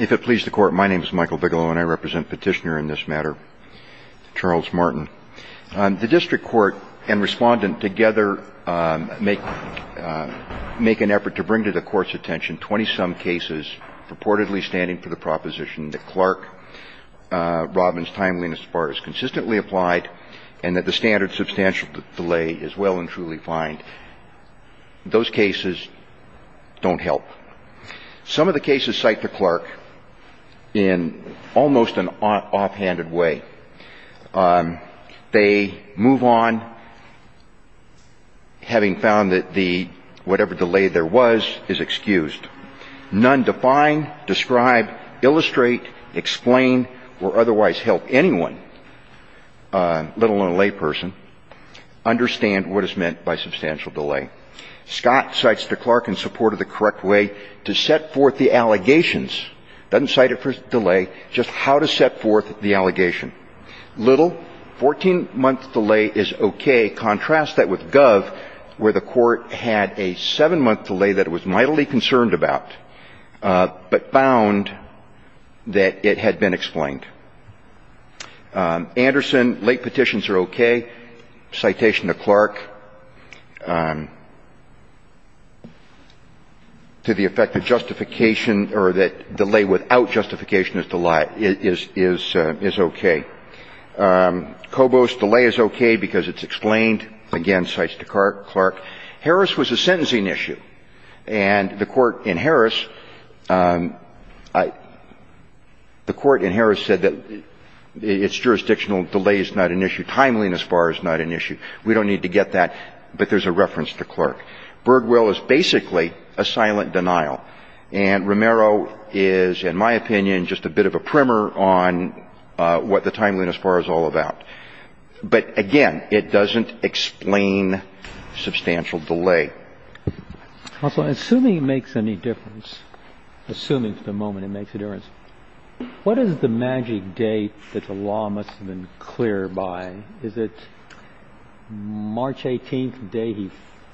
If it pleases the Court, my name is Michael Bigelow and I represent Petitioner in this matter, Charles Martin. The District Court and Respondent together make an effort to bring to the Court's attention 20-some cases purportedly standing for the proposition that Clark-Robbins timeliness far as consistently applied and that the standard substantial delay is well and truly fine. Those cases don't help. Some of the cases cite to Clark in almost an offhanded way. They move on having found that whatever delay there was is excused. None define, describe, illustrate, explain or otherwise help anyone, let alone a layperson, understand what is meant by substantial delay. Scott cites to Clark in support of the correct way to set forth the allegations. Doesn't cite it for delay, just how to set forth the allegation. Little, 14-month delay is okay. Contrast that with Gov, where the Court had a 7-month delay that it was mightily concerned about, but found that it had been explained. Anderson, late petitions are okay. Citation to Clark to the effect that justification or that delay without justification is okay. Cobos, delay is okay because it's explained. Again, cites to Clark. Harris was a sentencing issue. And the Court in Harris, the Court in Harris said that its jurisdictional delay is not an issue. Timeliness far is not an issue. We don't need to get that, but there's a reference to Clark. Birdwell is basically a silent denial. And Romero is, in my opinion, just a bit of a primer on what the timeliness far is all about. But again, it doesn't explain substantial delay. Also, assuming it makes any difference, assuming for the moment it makes a difference, what is the magic date that the law must have been clear by? Is it March 18th, the day he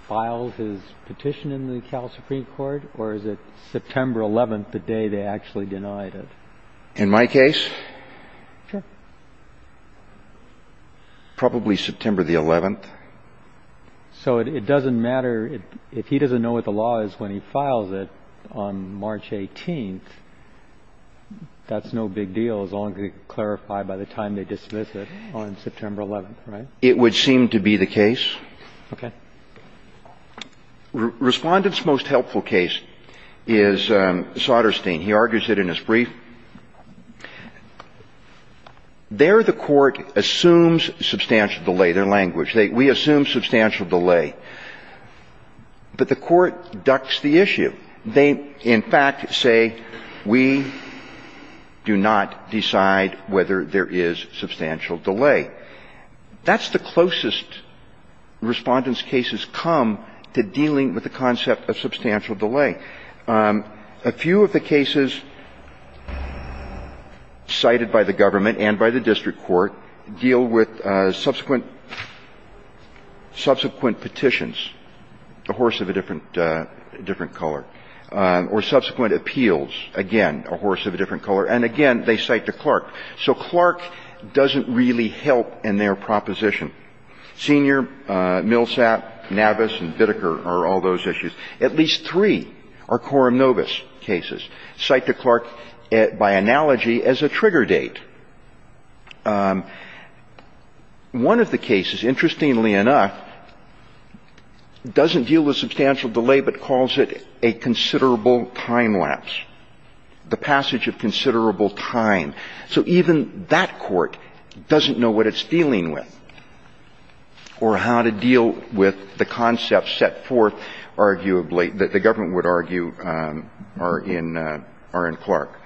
files his petition in the Cal Supreme Court, or is it September 11th, the day they actually denied it? In my case? Sure. Probably September the 11th. So it doesn't matter if he doesn't know what the law is when he files it on March 18th. That's no big deal as long as it's clarified by the time they dismiss it on September 11th, right? It would seem to be the case. Okay. Respondent's most helpful case is Soderstein. He argues it in his brief. There the Court assumes substantial delay. Their language. We assume substantial delay. But the Court ducks the issue. They, in fact, say we do not decide whether there is substantial delay. That's the closest Respondent's cases come to dealing with the concept of substantial delay. Okay. A few of the cases cited by the government and by the district court deal with subsequent petitions, a horse of a different color, or subsequent appeals, again, a horse of a different color. And, again, they cite the Clark. So Clark doesn't really help in their proposition. Senior, Millsap, Navis, and Bitteker are all those issues. At least three are Coram Novus cases. Cite the Clark by analogy as a trigger date. One of the cases, interestingly enough, doesn't deal with substantial delay but calls it a considerable time lapse, the passage of considerable time. So even that Court doesn't know what it's dealing with or how to deal with the concept And the other cases that are set forth, arguably, that the government would argue are in Clark,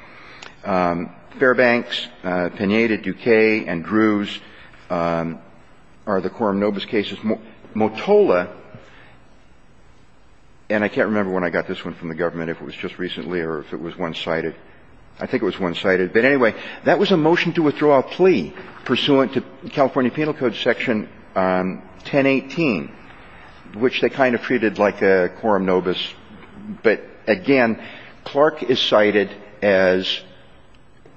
Fairbanks, Penaite, Duque, and Drews are the Coram Novus cases. Motola, and I can't remember when I got this one from the government, if it was just recently or if it was one-sided. I think it was one-sided. But, anyway, that was a motion to withdraw a plea pursuant to California Penal Code Section 1018, which they kind of treated like a Coram Novus. But, again, Clark is cited as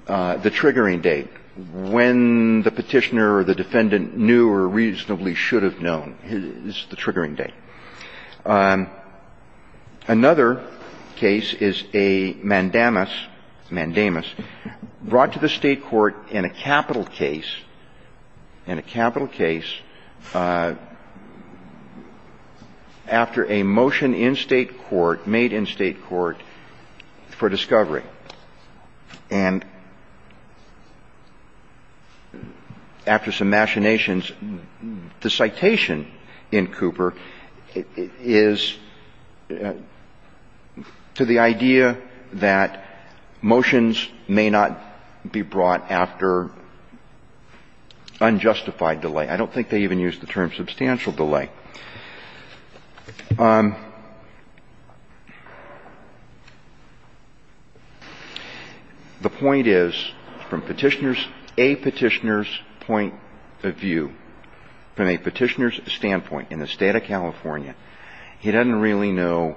the triggering date, when the Petitioner or the Defendant knew or reasonably should have known is the triggering date. Another case is a mandamus, mandamus, brought to the State court in a capital case, in a capital case, after a motion in State court, made in State court, for discovery. And after some machinations, the citation in Cooper is a mandamus. It is to the idea that motions may not be brought after unjustified delay. I don't think they even use the term substantial delay. The point is, from Petitioner's, a Petitioner's point of view, from a Petitioner's standpoint, in the State of California, he doesn't really know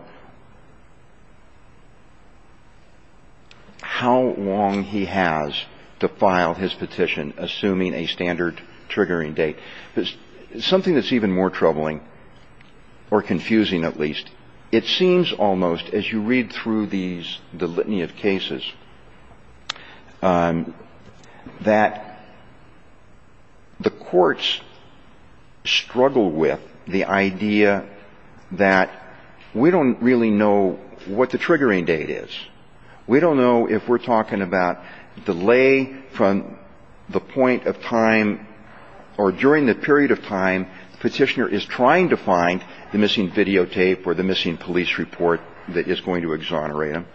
how long he has to file his petition, assuming a standard triggering date. Something that's even more troubling, or confusing at least, it seems almost, as you read through these, the litany of cases, that the courts struggle with the idea that we don't really know what the triggering date is. We don't know if we're talking about delay from the point of time or during the period of time the Petitioner is trying to find the missing videotape or the missing police report that is going to exonerate him,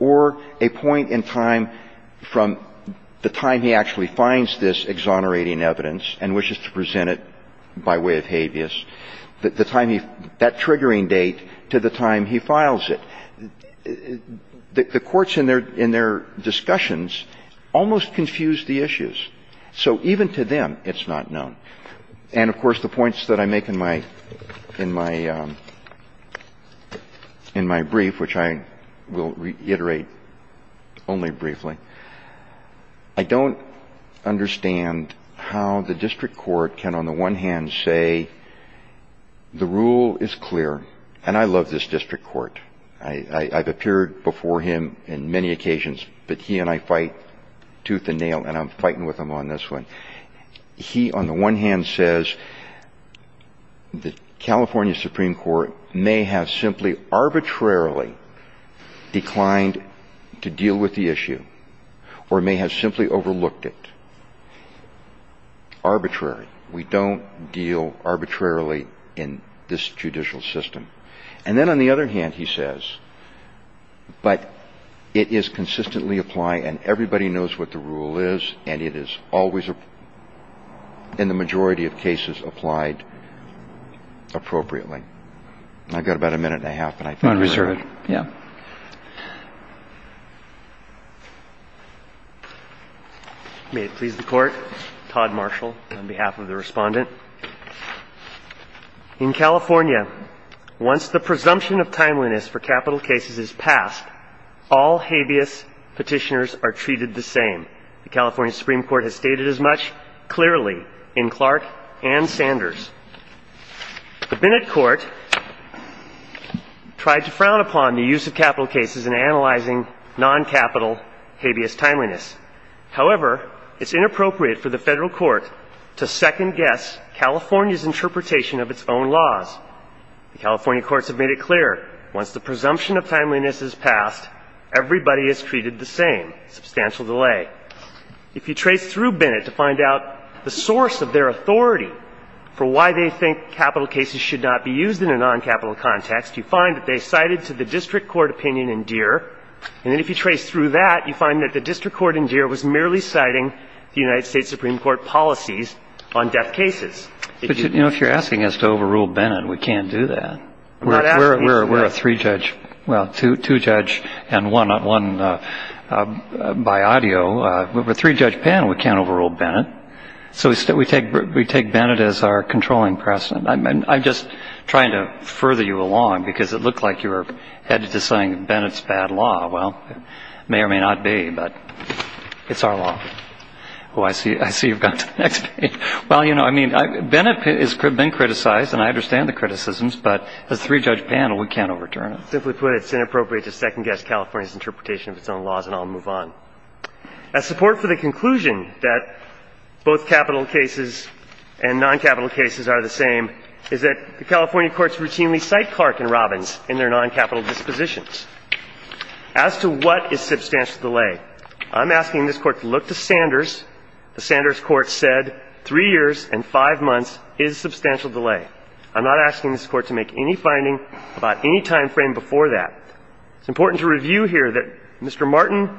or a point in time from the time he actually finds this exonerating evidence and wishes to present it by way of habeas, the time he – that triggering date to the time he files it. The courts in their discussions almost confuse the issues. So even to them, it's not known. And, of course, the points that I make in my – in my brief, which I will reiterate only briefly, I don't understand how the district court can, on the one hand, say the rule is clear, and I love this district court. I've appeared before him in many occasions, but he and I fight tooth and nail, and I'm fighting with him on this one. He, on the one hand, says the California Supreme Court may have simply arbitrarily declined to deal with the issue or may have simply overlooked it. Arbitrary. We don't deal arbitrarily in this judicial system. And then, on the other hand, he says, but it is consistently applied and everybody knows what the rule is, and it is always, in the majority of cases, applied appropriately. I've got about a minute and a half, but I think we're – Unreserved. Yeah. May it please the Court. Todd Marshall on behalf of the Respondent. In California, once the presumption of timeliness for capital cases is passed, all habeas petitioners are treated the same. The California Supreme Court has stated as much clearly in Clark and Sanders. The Bennett Court tried to frown upon the use of capital cases in analyzing non-capital habeas timeliness. However, it's inappropriate for the federal court to second-guess California's interpretation of its own laws. The California courts have made it clear, once the presumption of timeliness is passed, everybody is treated the same. Substantial delay. If you trace through Bennett to find out the source of their authority for why they think capital cases should not be used in a non-capital context, you find that they cited to the district court opinion in Deere. And if you trace through that, you find that the district court in Deere was merely citing the United States Supreme Court policies on death cases. But, you know, if you're asking us to overrule Bennett, we can't do that. We're a three-judge – well, two-judge case. And one by audio. We're a three-judge panel. We can't overrule Bennett. So we take Bennett as our controlling precedent. I'm just trying to further you along because it looked like you were headed to saying Bennett's bad law. Well, it may or may not be, but it's our law. Oh, I see you've gone to the next page. Well, you know, I mean, Bennett has been criticized, and I understand the criticisms, but as a three-judge panel, we can't overturn it. I'll simply put it, it's inappropriate to second-guess California's interpretation of its own laws, and I'll move on. As support for the conclusion that both capital cases and non-capital cases are the same is that the California courts routinely cite Clark and Robbins in their non-capital dispositions. As to what is substantial delay, I'm asking this Court to look to Sanders. The Sanders court said three years and five months is substantial delay. I'm not asking this Court to make any finding about any time frame before that. It's important to review here that Mr. Martin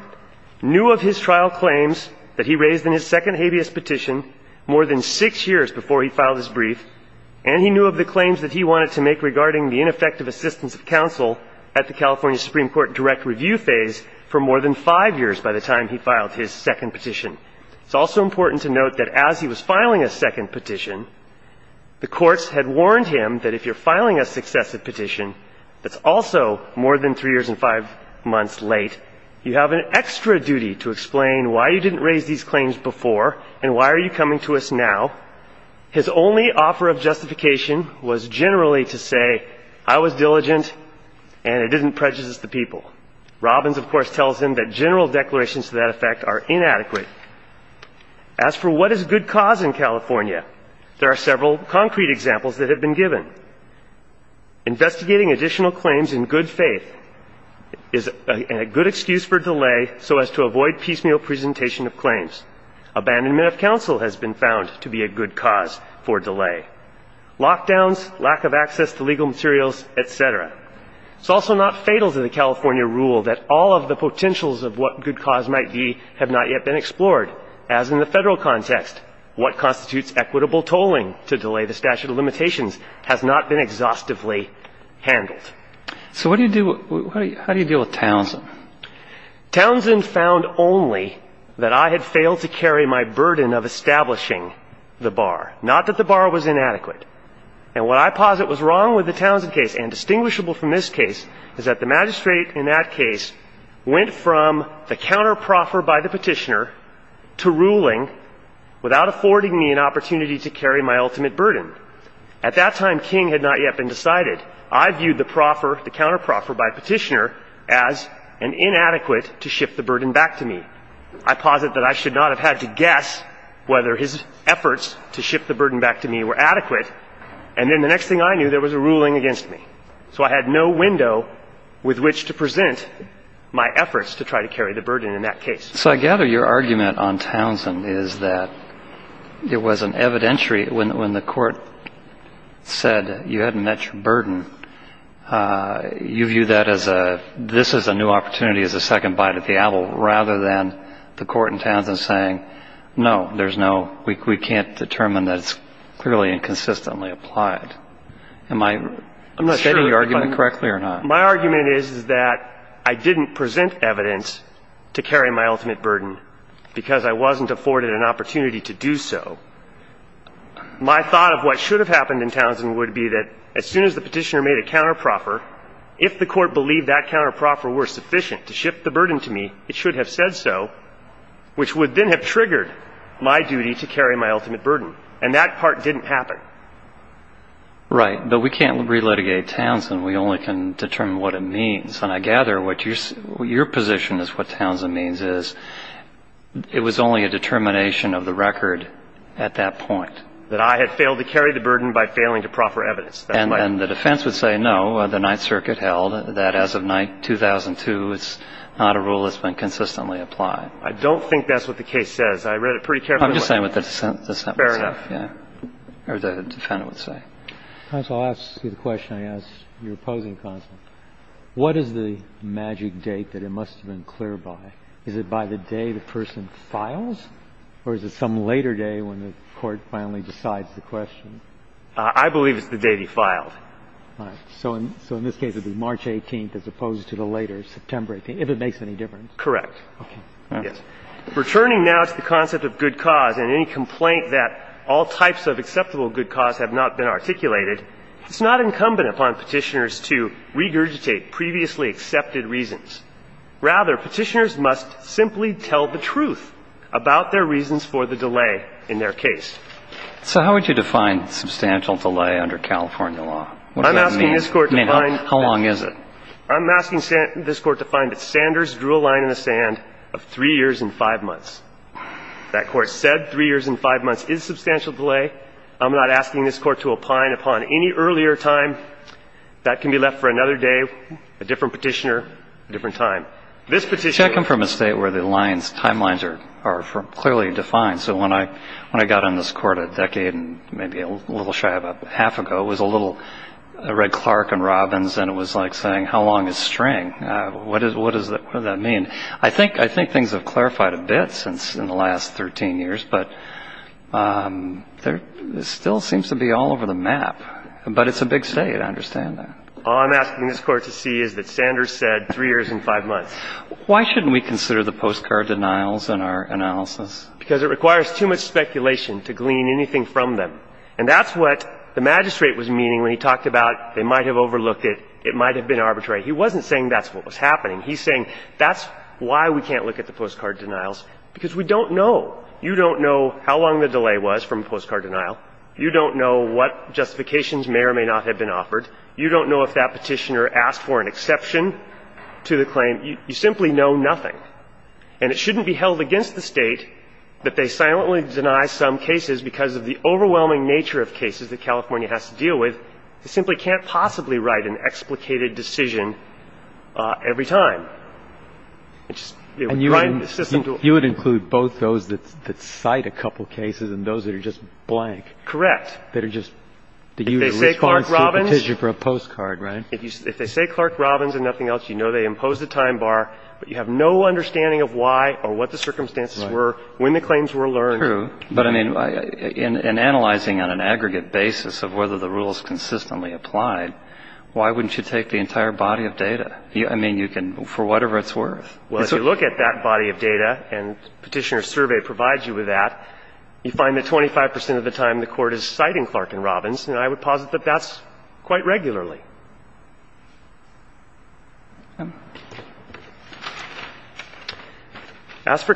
knew of his trial claims that he raised in his second habeas petition more than six years before he filed his brief, and he knew of the claims that he wanted to make regarding the ineffective assistance of counsel at the California Supreme Court direct review phase for more than five years by the time he filed his second petition. It's also important to note that as he was filing a second petition, the courts had warned him that if you're filing a successive petition that's also more than three years and five months late, you have an extra duty to explain why you didn't raise these claims before and why are you coming to us now. His only offer of justification was generally to say, I was diligent and it didn't prejudice the people. Robbins, of course, tells him that general declarations to that effect are inadequate. As for what is good cause in California, there are several concrete examples that have been given. Investigating additional claims in good faith is a good excuse for delay so as to avoid piecemeal presentation of claims. Abandonment of counsel has been found to be a good cause for delay. Lockdowns, lack of access to legal materials, et cetera. It's also not fatal to the California rule that all of the potentials of what good cause might be have not yet been explored. As in the Federal context, what constitutes equitable tolling to delay the statute of limitations has not been exhaustively handled. So what do you do, how do you deal with Townsend? Townsend found only that I had failed to carry my burden of establishing the bar. Not that the bar was inadequate. And what I posit was wrong with the Townsend case and distinguishable from this case is that the magistrate in that case went from the counter proffer by the petitioner to ruling without affording me an opportunity to carry my ultimate burden. At that time, King had not yet been decided. I viewed the proffer, the counter proffer by petitioner as an inadequate to shift the burden back to me. I posit that I should not have had to guess whether his efforts to shift the burden back to me were adequate. And then the next thing I knew, there was a ruling against me. So I had no window with which to present my efforts to try to carry the burden in that case. So I gather your argument on Townsend is that it was an evidentiary when the court said you hadn't met your burden, you view that as a, this is a new opportunity as a second bite at the apple rather than the court in Townsend saying no, there's no, we can't determine that it's clearly and consistently applied. Am I stating your argument correctly or not? My argument is that I didn't present evidence to carry my ultimate burden because I wasn't afforded an opportunity to do so. My thought of what should have happened in Townsend would be that as soon as the petitioner made a counter proffer, if the court believed that counter proffer were sufficient to shift the burden to me, it should have said so, which would then have triggered my duty to carry my ultimate burden. And that part didn't happen. Right. But we can't re-litigate Townsend. We only can determine what it means. And I gather what your position is what Townsend means is it was only a determination of the record at that point. That I had failed to carry the burden by failing to proffer evidence. And the defense would say no, the Ninth Circuit held that as of 2002, it's not a rule that's been consistently applied. I don't think that's what the case says. I read it pretty carefully. I'm just saying what the sentence says. Fair enough. Yeah. Or the defendant would say. Counsel, I'll ask you the question I asked your opposing counsel. What is the magic date that it must have been cleared by? Is it by the day the person files? Or is it some later day when the court finally decides the question? I believe it's the day he filed. All right. So in this case, it would be March 18th as opposed to the later September 18th, if it makes any difference. Correct. Okay. Yes. Returning now to the concept of good cause and any complaint that all types of acceptable good cause have not been articulated, it's not incumbent upon Petitioners to regurgitate previously accepted reasons. Rather, Petitioners must simply tell the truth about their reasons for the delay in their case. So how would you define substantial delay under California law? What does that mean? I'm asking this Court to find. How long is it? I'm asking this Court to find that Sanders drew a line in the sand of three years and five months. That Court said three years and five months is substantial delay. I'm not asking this Court to opine upon any earlier time. That can be left for another day, a different Petitioner, a different time. This Petitioner. Should I come from a state where the lines, timelines are clearly defined? So when I got on this Court a decade and maybe a little shy about half ago, it was a little Red Clark and Robbins and it was like saying how long is string? What does that mean? I think things have clarified a bit since in the last 13 years, but there still seems to be all over the map. But it's a big state. I understand that. All I'm asking this Court to see is that Sanders said three years and five months. Why shouldn't we consider the postcard denials in our analysis? Because it requires too much speculation to glean anything from them. And that's what the Magistrate was meaning when he talked about they might have overlooked it, it might have been arbitrary. He wasn't saying that's what was happening. He's saying that's why we can't look at the postcard denials, because we don't know. You don't know how long the delay was from postcard denial. You don't know what justifications may or may not have been offered. You don't know if that Petitioner asked for an exception to the claim. You simply know nothing. And it shouldn't be held against the State that they silently deny some cases because of the overwhelming nature of cases that California has to deal with. They simply can't possibly write an explicated decision every time. And you would include both those that cite a couple cases and those that are just blank. Correct. That are just, that you respond to a petition for a postcard, right? If they say Clark Robbins and nothing else, you know they imposed a time bar, but you have no understanding of why or what the circumstances were, when the claims were learned. That's true. But, I mean, in analyzing on an aggregate basis of whether the rule is consistently applied, why wouldn't you take the entire body of data? I mean, you can, for whatever it's worth. Well, if you look at that body of data, and Petitioner's survey provides you with that, you find that 25 percent of the time the Court is citing Clark and Robbins, and I would posit that that's quite regularly. We have a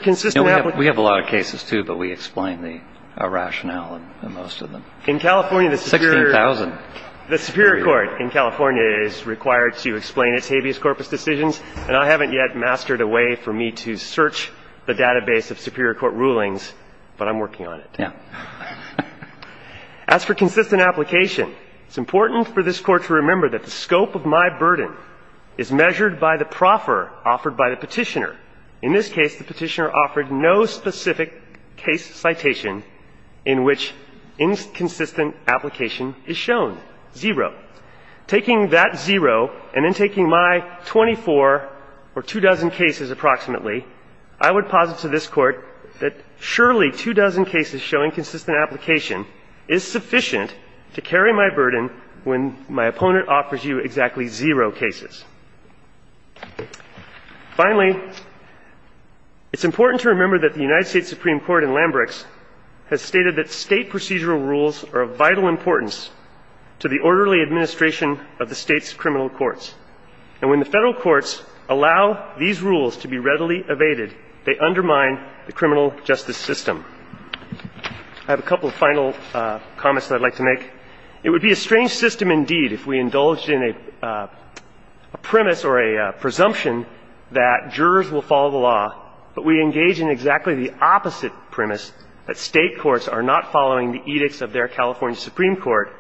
lot of cases, too, but we explain the rationale in most of them. In California, the Superior Court in California is required to explain its habeas corpus decisions, and I haven't yet mastered a way for me to search the database of Superior Court rulings, but I'm working on it. Yeah. As for consistent application, it's important for this Court to remember that it's important for this Court to have consistent application. It's important for this Court to remember that the scope of my burden is measured by the proffer offered by the Petitioner. In this case, the Petitioner offered no specific case citation in which inconsistent application is shown, zero. Taking that zero, and then taking my 24 or two dozen cases approximately, I would posit to this Court that surely two dozen cases showing consistent application is sufficient to carry my burden when my opponent offers you exactly zero cases. Finally, it's important to remember that the United States Supreme Court in Lambrex has stated that State procedural rules are of vital importance to the orderly administration of the State's criminal courts, and when the Federal courts allow these rules to be readily evaded, they undermine the criminal justice system. I have a couple of final comments that I'd like to make. It would be a strange system indeed if we indulged in a premise or a presumption that jurors will follow the law, but we engage in exactly the opposite premise, that State courts are not following the edicts of their California Supreme Court,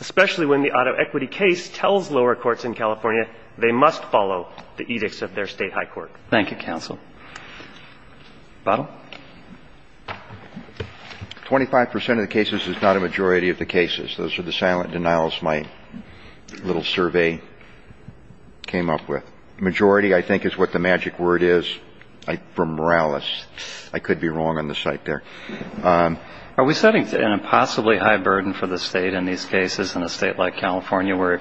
especially when the auto equity case tells lower courts in California they must follow the edicts of their State high court. Thank you, counsel. Butler? Twenty-five percent of the cases is not a majority of the cases. Those are the silent denials my little survey came up with. Majority, I think, is what the magic word is from Morales. I could be wrong on the site there. Are we setting an impossibly high burden for the State in these cases in a State like California where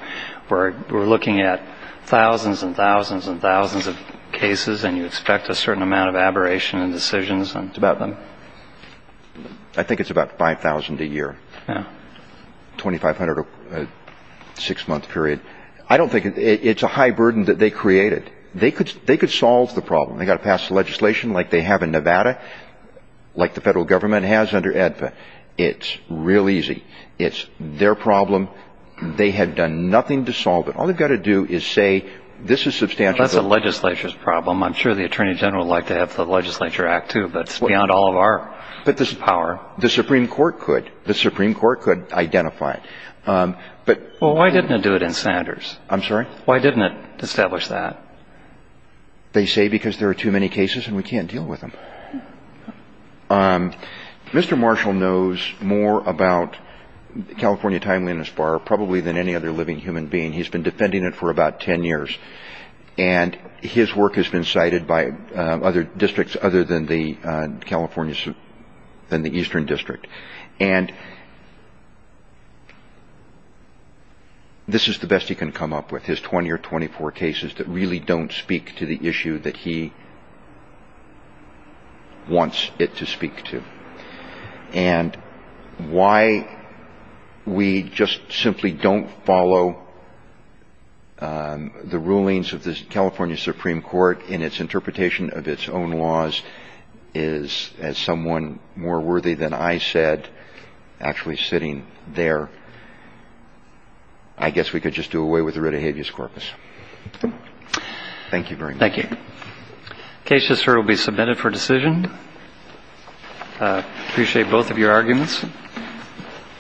we're looking at thousands and thousands and thousands of cases and you expect a certain amount of aberration in decisions? It's about, I think it's about 5,000 a year. Yeah. 2,500 a six-month period. I don't think it's a high burden that they created. They could solve the problem. They've got to pass legislation like they have in Nevada, like the federal government has under ADFA. It's real easy. It's their problem. They have done nothing to solve it. All they've got to do is say this is substantial. That's the legislature's problem. I'm sure the Attorney General would like to have the legislature act too, but it's beyond all of our power. The Supreme Court could. The Supreme Court could identify it. Well, why didn't it do it in Sanders? I'm sorry? Why didn't it establish that? They say because there are too many cases and we can't deal with them. Mr. Marshall knows more about California Timeliness Bar probably than any other living human being. He's been defending it for about 10 years. And his work has been cited by other districts other than the Eastern District. And this is the best he can come up with, his 20 or 24 cases that really don't speak to the issue that he wants it to speak to. And why we just simply don't follow the rulings of the California Supreme Court in its interpretation of its own laws is, as someone more worthy than I said actually sitting there, I guess we could just do away with the Rita Habeas Corpus. Thank you very much. Thank you. The case will be submitted for decision. I appreciate both of your arguments.